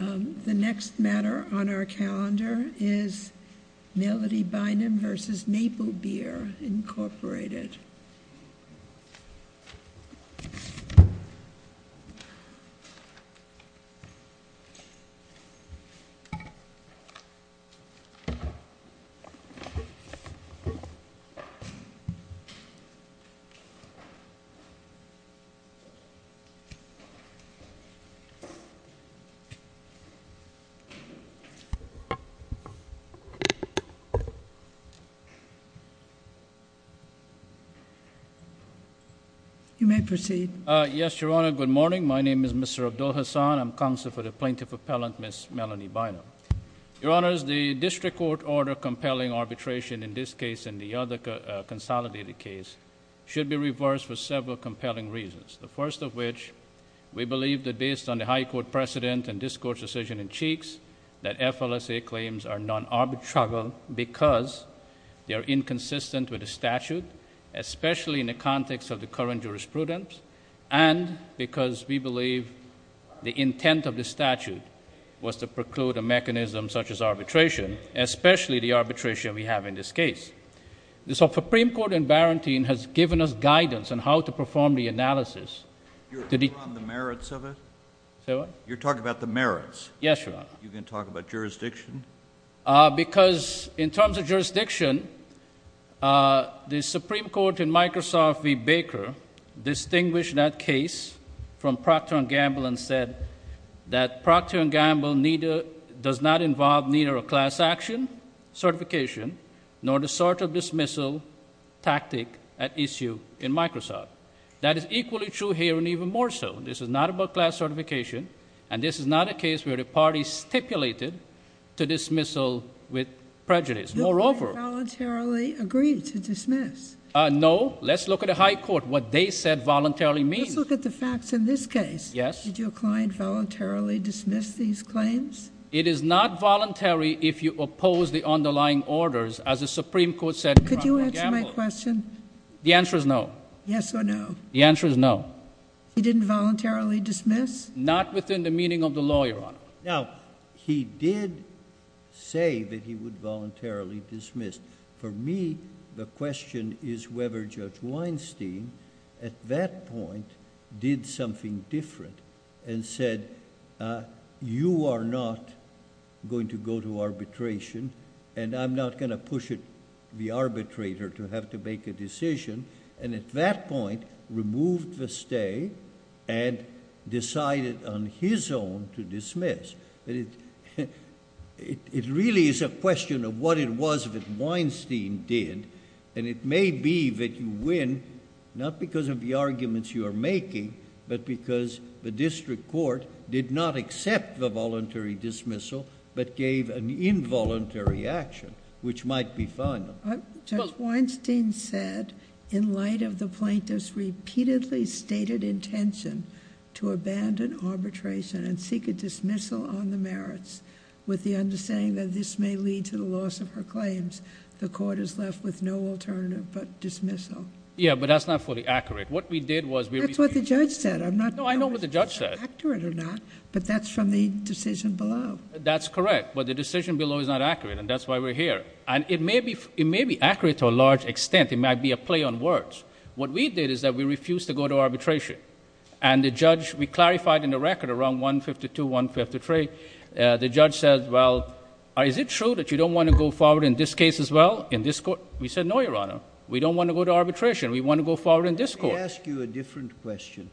The next matter on our calendar is Melody Bynum v. Maplebear Inc. Yes, Your Honor, good morning. My name is Mr. Abdul Hasan. I'm counsel for the Plaintiff Appellant, Ms. Melody Bynum. Your Honors, the district court order compelling arbitration in this case and the other consolidated case should be reversed for several compelling reasons, the first of which we believe that the High Court precedent and this Court's decision in Cheeks that FLSA claims are non-arbitrable because they are inconsistent with the statute, especially in the context of the current jurisprudence and because we believe the intent of the statute was to preclude a mechanism such as arbitration, especially the arbitration we have in this case. The Supreme Court in Barrington has given us guidance on how to perform the analysis You're talking about the merits of it? Say what? You're talking about the merits? Yes, Your Honor. You're going to talk about jurisdiction? Because in terms of jurisdiction, the Supreme Court in Microsoft v. Baker distinguished that case from Procter & Gamble and said that Procter & Gamble does not involve neither a class action certification nor the sort of dismissal tactic at issue in Microsoft. That is equally true here and even more so. This is not about class certification and this is not a case where the party stipulated to dismissal with prejudice. Moreover, Who voluntarily agreed to dismiss? No, let's look at the High Court, what they said voluntarily means. Let's look at the facts in this case. Yes. Did your client voluntarily dismiss these claims? It is not voluntary if you oppose the underlying orders as the Supreme Court said in Procter & Gamble. Could you answer my question? The answer is no. Yes or no? The answer is no. He didn't voluntarily dismiss? Not within the meaning of the law, Your Honor. Now, he did say that he would voluntarily dismiss. For me, the question is whether Judge Weinstein at that point did something different and said, you are not going to go to arbitration and I'm not going to push the arbitrator to have to make a decision. And at that point, removed the stay and decided on his own to dismiss. It really is a question of what it was that Weinstein did. And it may be that you win, not because of the arguments you are making, but because the district court did not accept the voluntary dismissal, but gave an involuntary action, which might be final. Judge Weinstein said, in light of the plaintiff's repeatedly stated intention to abandon arbitration and seek a dismissal on the merits, with the understanding that this may lead to the loss of her claims, the court is left with no alternative but dismissal. Yes, but that is not fully accurate. That is what the judge said. No, I know what the judge said. But that is from the decision below. That is correct, but the decision below is not accurate and that is why we are here. And it may be accurate to a large extent. It might be a play on words. What we did is that we refused to go to arbitration. And the judge, we clarified in the record around 152, 153, the judge said, well, is it true that you don't want to go forward in this case as well, in this court? We said, no, Your Honor, we don't want to go to arbitration. We want to go forward in this court. Let me ask you a different question.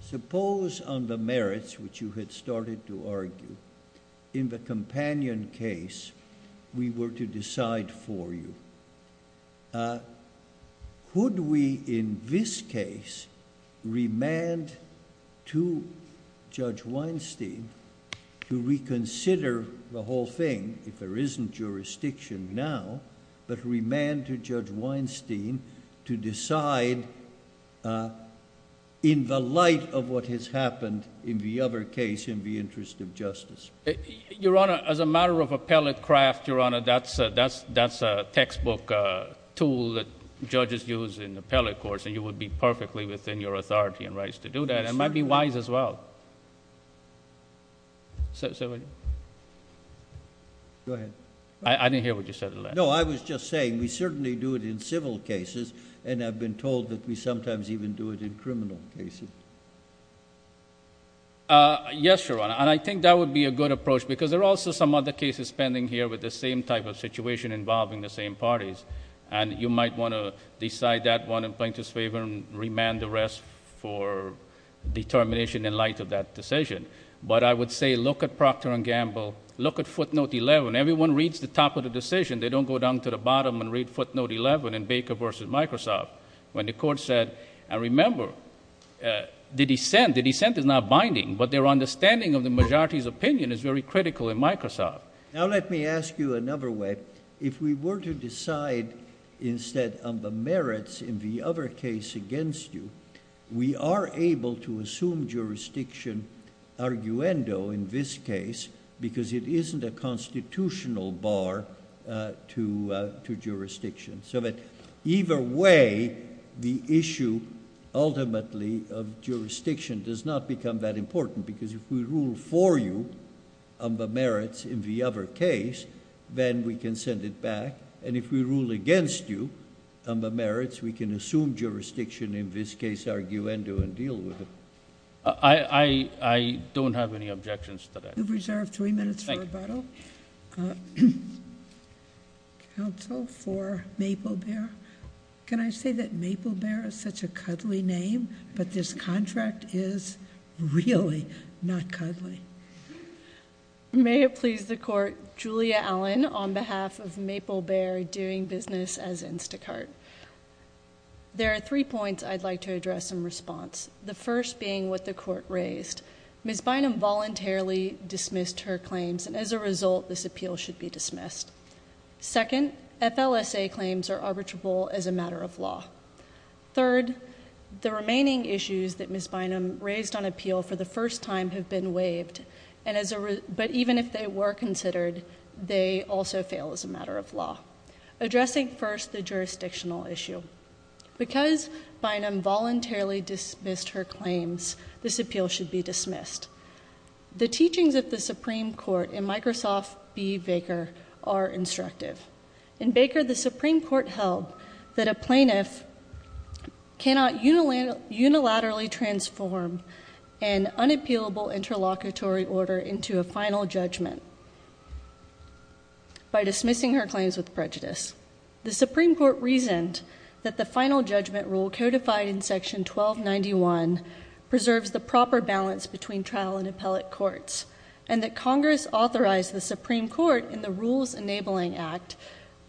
Suppose on the merits, which you had started to argue, in the companion case, we were to decide for you, would we in this case remand to Judge Weinstein to reconsider the whole thing, if there isn't jurisdiction now, but remand to Judge Weinstein to decide in the light of what has happened in the other case in the interest of justice? Your Honor, as a matter of appellate craft, Your Honor, that's a textbook tool that judges use in appellate courts and you would be perfectly within your authority and rights to do that. It might be wise as well. Go ahead. I didn't hear what you said, Your Honor. No, I was just saying we certainly do it in civil cases and I've been told that we sometimes even do it in criminal cases. Yes, Your Honor, and I think that would be a good approach because there are also some other cases pending here with the same type of situation involving the same parties and you might want to decide that one in plaintiff's favor and remand the rest for determination in light of that decision, but I would say look at Procter & Gamble, look at footnote 11. When everyone reads the top of the decision, they don't go down to the bottom and read footnote 11 in Baker v. Microsoft when the court said, and remember, the dissent is not binding, but their understanding of the majority's opinion is very critical in Microsoft. Now let me ask you another way. If we were to decide instead on the merits in the other case against you, we are able to assume jurisdiction arguendo in this case because it isn't a constitutional bar to jurisdiction so that either way the issue ultimately of jurisdiction does not become that important because if we rule for you on the merits in the other case, then we can send it back and if we rule against you on the merits, we can assume jurisdiction in this case arguendo and deal with it. I don't have any objections to that. You've reserved three minutes for rebuttal. Thank you. Counsel for Maple Bear. Can I say that Maple Bear is such a cuddly name, but this contract is really not cuddly. May it please the court, Julia Allen on behalf of Maple Bear doing business as Instacart. There are three points I'd like to address in response, the first being what the court raised. Ms. Bynum voluntarily dismissed her claims and as a result this appeal should be dismissed. Second, FLSA claims are arbitrable as a matter of law. Third, the remaining issues that Ms. Bynum raised on appeal for the first time have been waived, but even if they were considered, they also fail as a matter of law. Addressing first the jurisdictional issue, because Bynum voluntarily dismissed her claims, this appeal should be dismissed. The teachings of the Supreme Court in Microsoft v. Baker are instructive. In Baker, the Supreme Court held that a plaintiff cannot unilaterally transform an unappealable interlocutory order into a final judgment by dismissing her claims with prejudice. The Supreme Court reasoned that the final judgment rule codified in Section 1291 preserves the proper balance between trial and appellate courts, and that Congress authorized the Supreme Court in the Rules Enabling Act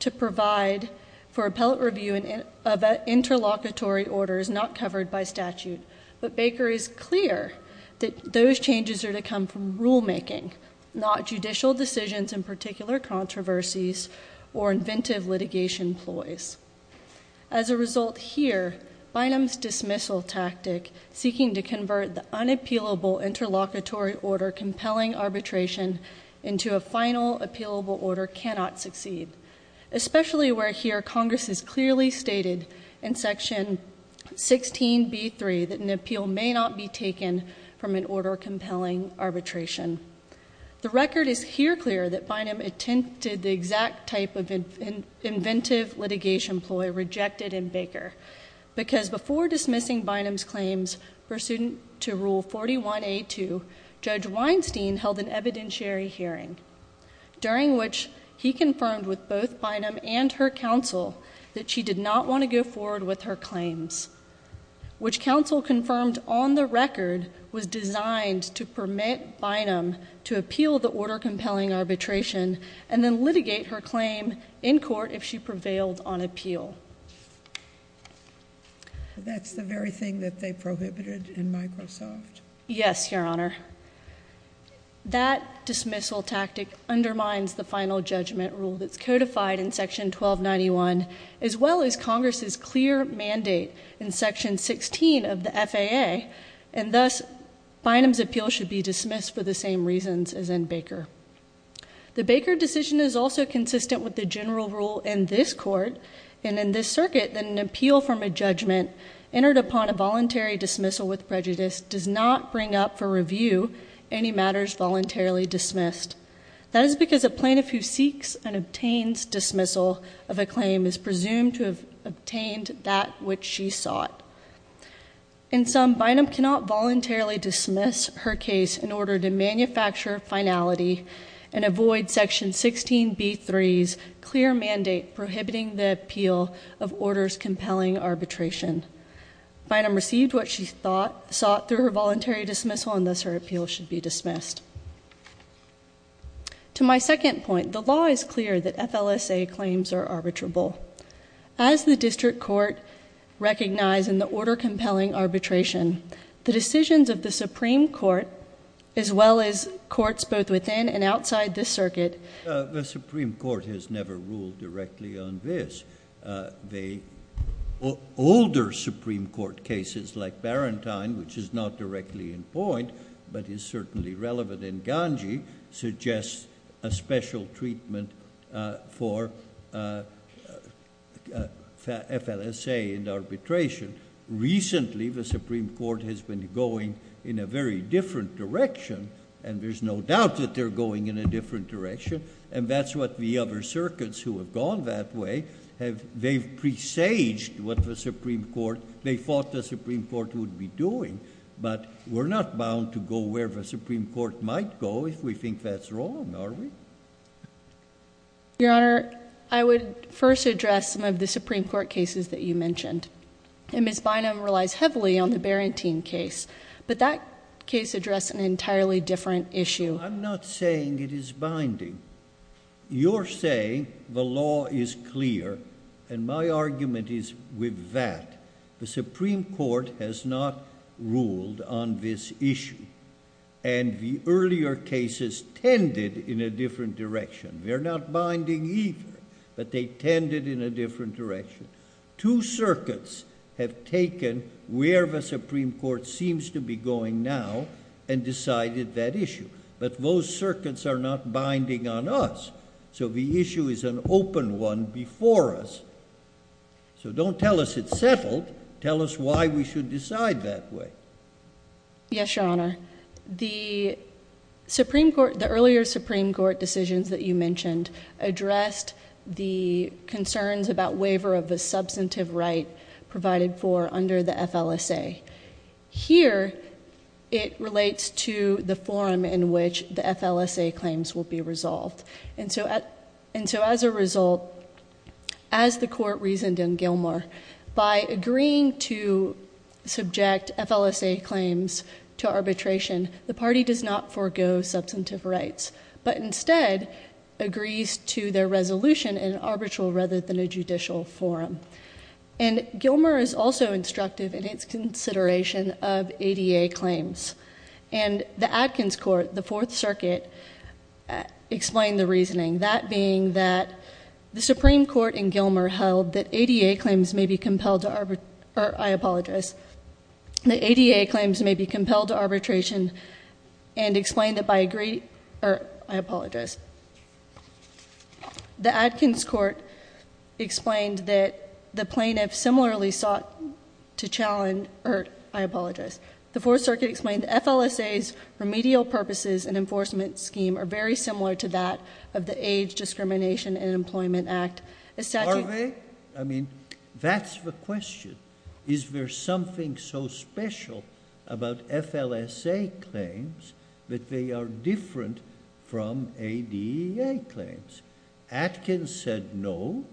to provide for appellate review of interlocutory orders not covered by statute, but Baker is clear that those changes are to come from rulemaking, not judicial decisions in particular controversies or inventive litigation ploys. As a result here, Bynum's dismissal tactic, seeking to convert the unappealable interlocutory order compelling arbitration into a final appealable order cannot succeed, especially where here Congress has clearly stated in Section 16b3 that an appeal may not be taken from an order compelling arbitration. The record is here clear that Bynum attempted the exact type of inventive litigation ploy rejected in Baker because before dismissing Bynum's claims pursuant to Rule 41a2, Judge Weinstein held an evidentiary hearing, during which he confirmed with both Bynum and her counsel that she did not want to go forward with her claims, which counsel confirmed on the record was designed to permit Bynum to appeal the order compelling arbitration and then litigate her claim in court if she prevailed on appeal. That's the very thing that they prohibited in Microsoft? Yes, Your Honor. That dismissal tactic undermines the final judgment rule that's codified in Section 1291, as well as Congress's clear mandate in Section 16 of the FAA, and thus Bynum's appeal should be dismissed for the same reasons as in Baker. The Baker decision is also consistent with the general rule in this court, and in this circuit that an appeal from a judgment entered upon a voluntary dismissal with prejudice does not bring up for review any matters voluntarily dismissed. That is because a plaintiff who seeks and obtains dismissal of a claim is presumed to have obtained that which she sought. In sum, Bynum cannot voluntarily dismiss her case in order to manufacture finality and avoid Section 16b3's clear mandate prohibiting the appeal of orders compelling arbitration. Bynum received what she sought through her voluntary dismissal, and thus her appeal should be dismissed. To my second point, the law is clear that FLSA claims are arbitrable. As the district court recognized in the order compelling arbitration, the decisions of the Supreme Court, as well as courts both within and outside this circuit The Supreme Court has never ruled directly on this. The older Supreme Court cases like Barantine, which is not directly in point but is certainly relevant in Ganji, suggests a special treatment for FLSA and arbitration. Recently, the Supreme Court has been going in a very different direction, and there's no doubt that they're going in a different direction, and that's what the other circuits who have gone that way, they've presaged what the Supreme Court, they thought the Supreme Court would be doing, but we're not bound to go where the Supreme Court might go if we think that's wrong, are we? Your Honor, I would first address some of the Supreme Court cases that you mentioned, and Ms. Bynum relies heavily on the Barantine case, but that case addressed an entirely different issue. I'm not saying it is binding. You're saying the law is clear, and my argument is with that. The Supreme Court has not ruled on this issue, and the earlier cases tended in a different direction. They're not binding either, but they tended in a different direction. Two circuits have taken where the Supreme Court seems to be going now and decided that issue, but those circuits are not binding on us, so the issue is an open one before us, so don't tell us it's settled. Tell us why we should decide that way. Yes, Your Honor. The earlier Supreme Court decisions that you mentioned addressed the concerns about waiver of the substantive right provided for under the FLSA. Here it relates to the forum in which the FLSA claims will be resolved, and so as a result, as the Court reasoned in Gilmore, by agreeing to subject FLSA claims to arbitration, the party does not forego substantive rights, but instead agrees to their resolution in an arbitral rather than a judicial forum. And Gilmore is also instructive in its consideration of ADA claims, and the Adkins Court, the Fourth Circuit, explained the reasoning, that being that the Supreme Court in Gilmore held that ADA claims may be compelled to arbitrate or, I apologize, that ADA claims may be compelled to arbitration and explained that by agreeing or, I apologize, the Adkins Court explained that the plaintiff similarly sought to challenge or, I apologize, the Fourth Circuit explained the FLSA's remedial purposes and enforcement scheme are very similar to that of the Age Discrimination and Employment Act. Are they? I mean, that's the question. Is there something so special about FLSA claims that they are different from ADA claims? Adkins said no.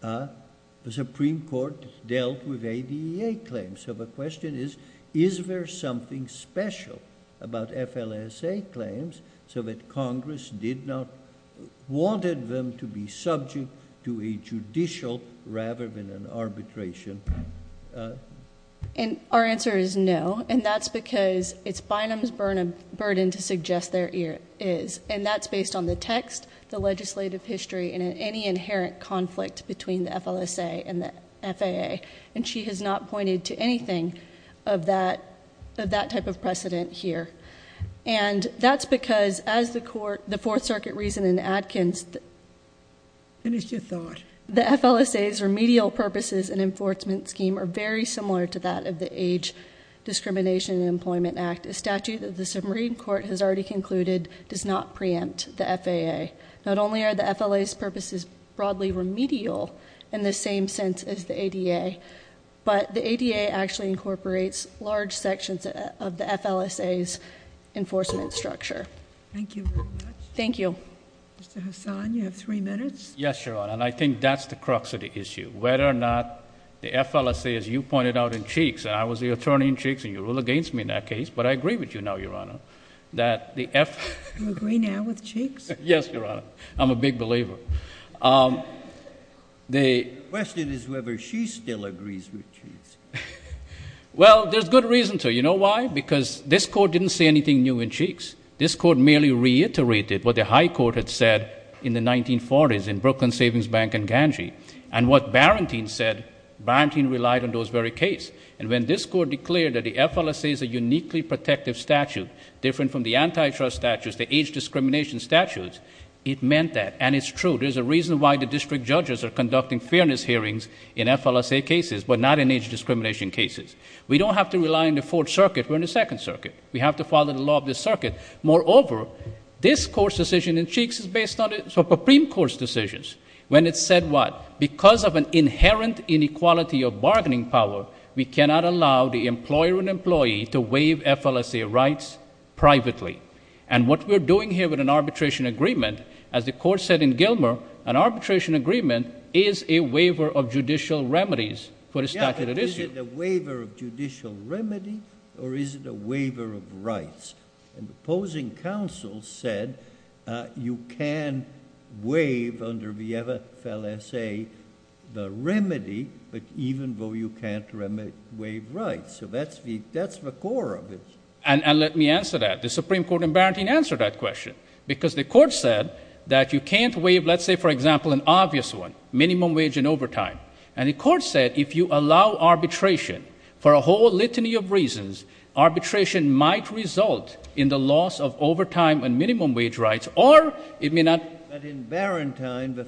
The Supreme Court dealt with ADA claims. So the question is, is there something special about FLSA claims so that Congress did not want them to be subject to a judicial rather than an arbitration? And our answer is no, and that's because it's Bynum's burden to suggest there is, and that's based on the text, the legislative history, and any inherent conflict between the FLSA and the FAA. And she has not pointed to anything of that type of precedent here. And that's because, as the Fourth Circuit reasoned in Adkins, Finish your thought. the FLSA's remedial purposes and enforcement scheme are very similar to that of the Age Discrimination and Employment Act. In fact, a statute that the Supreme Court has already concluded does not preempt the FAA. Not only are the FLA's purposes broadly remedial in the same sense as the ADA, but the ADA actually incorporates large sections of the FLSA's enforcement structure. Thank you very much. Thank you. Mr. Hassan, you have three minutes. Yes, Your Honor, and I think that's the crux of the issue, whether or not the FLSA, as you pointed out in Cheeks, and I was the attorney in Cheeks, and you rule against me in that case, but I agree with you now, Your Honor, that the FLSA You agree now with Cheeks? Yes, Your Honor. I'm a big believer. The question is whether she still agrees with Cheeks. Well, there's good reason to. You know why? Because this Court didn't say anything new in Cheeks. This Court merely reiterated what the High Court had said in the 1940s in Brooklyn Savings Bank and Gangee, and what Barrentine said, Barrentine relied on those very cases. And when this Court declared that the FLSA is a uniquely protective statute, different from the antitrust statutes, the age discrimination statutes, it meant that, and it's true. There's a reason why the district judges are conducting fairness hearings in FLSA cases, but not in age discrimination cases. We don't have to rely on the Fourth Circuit. We're in the Second Circuit. We have to follow the law of the circuit. Moreover, this Court's decision in Cheeks is based on the Supreme Court's decisions. When it said what? Because of an inherent inequality of bargaining power, we cannot allow the employer and employee to waive FLSA rights privately. And what we're doing here with an arbitration agreement, as the Court said in Gilmer, an arbitration agreement is a waiver of judicial remedies for the statute at issue. Yeah, but is it a waiver of judicial remedy, or is it a waiver of rights? And the opposing counsel said you can waive under the FLSA the remedy, but even though you can't waive rights. So that's the core of it. And let me answer that. The Supreme Court in Barrington answered that question, because the Court said that you can't waive, let's say, for example, an obvious one, minimum wage and overtime. And the Court said if you allow arbitration for a whole litany of reasons, arbitration might result in the loss of overtime and minimum wage rights, or it may not. But in Barrington, the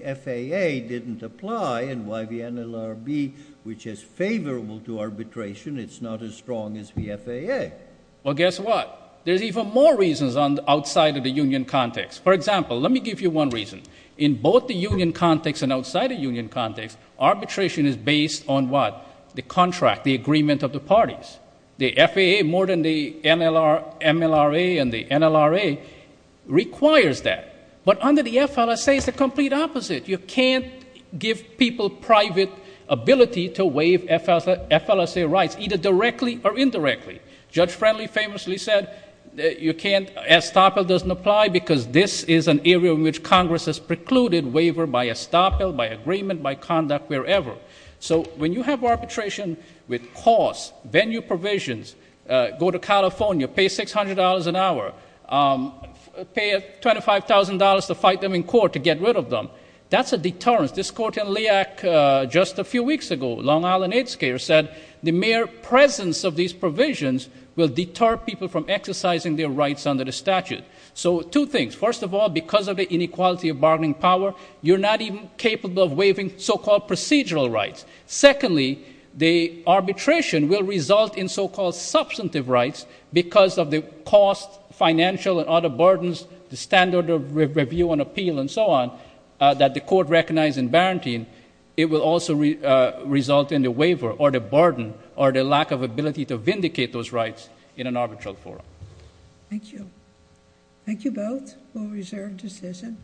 FAA didn't apply, and why the NLRB, which is favorable to arbitration, it's not as strong as the FAA. Well, guess what? There's even more reasons outside of the union context. For example, let me give you one reason. In both the union context and outside the union context, arbitration is based on what? The contract, the agreement of the parties. The FAA, more than the MLRA and the NLRA, requires that. But under the FLSA, it's the complete opposite. You can't give people private ability to waive FLSA rights, either directly or indirectly. Judge Friendly famously said you can't, estoppel doesn't apply, because this is an area in which Congress has precluded waiver by estoppel, by agreement, by conduct, wherever. So when you have arbitration with costs, venue provisions, go to California, pay $600 an hour, pay $25,000 to fight them in court to get rid of them, that's a deterrence. This court in LIAC just a few weeks ago, Long Island Aid Scaler, said the mere presence of these provisions will deter people from exercising their rights under the statute. So two things. First of all, because of the inequality of bargaining power, you're not even capable of waiving so-called procedural rights. Secondly, the arbitration will result in so-called substantive rights because of the cost, financial and other burdens, the standard of review and appeal and so on that the court recognized in Barantine, it will also result in the waiver or the burden or the lack of ability to vindicate those rights in an arbitral forum. Thank you. Thank you both for reserved discussion.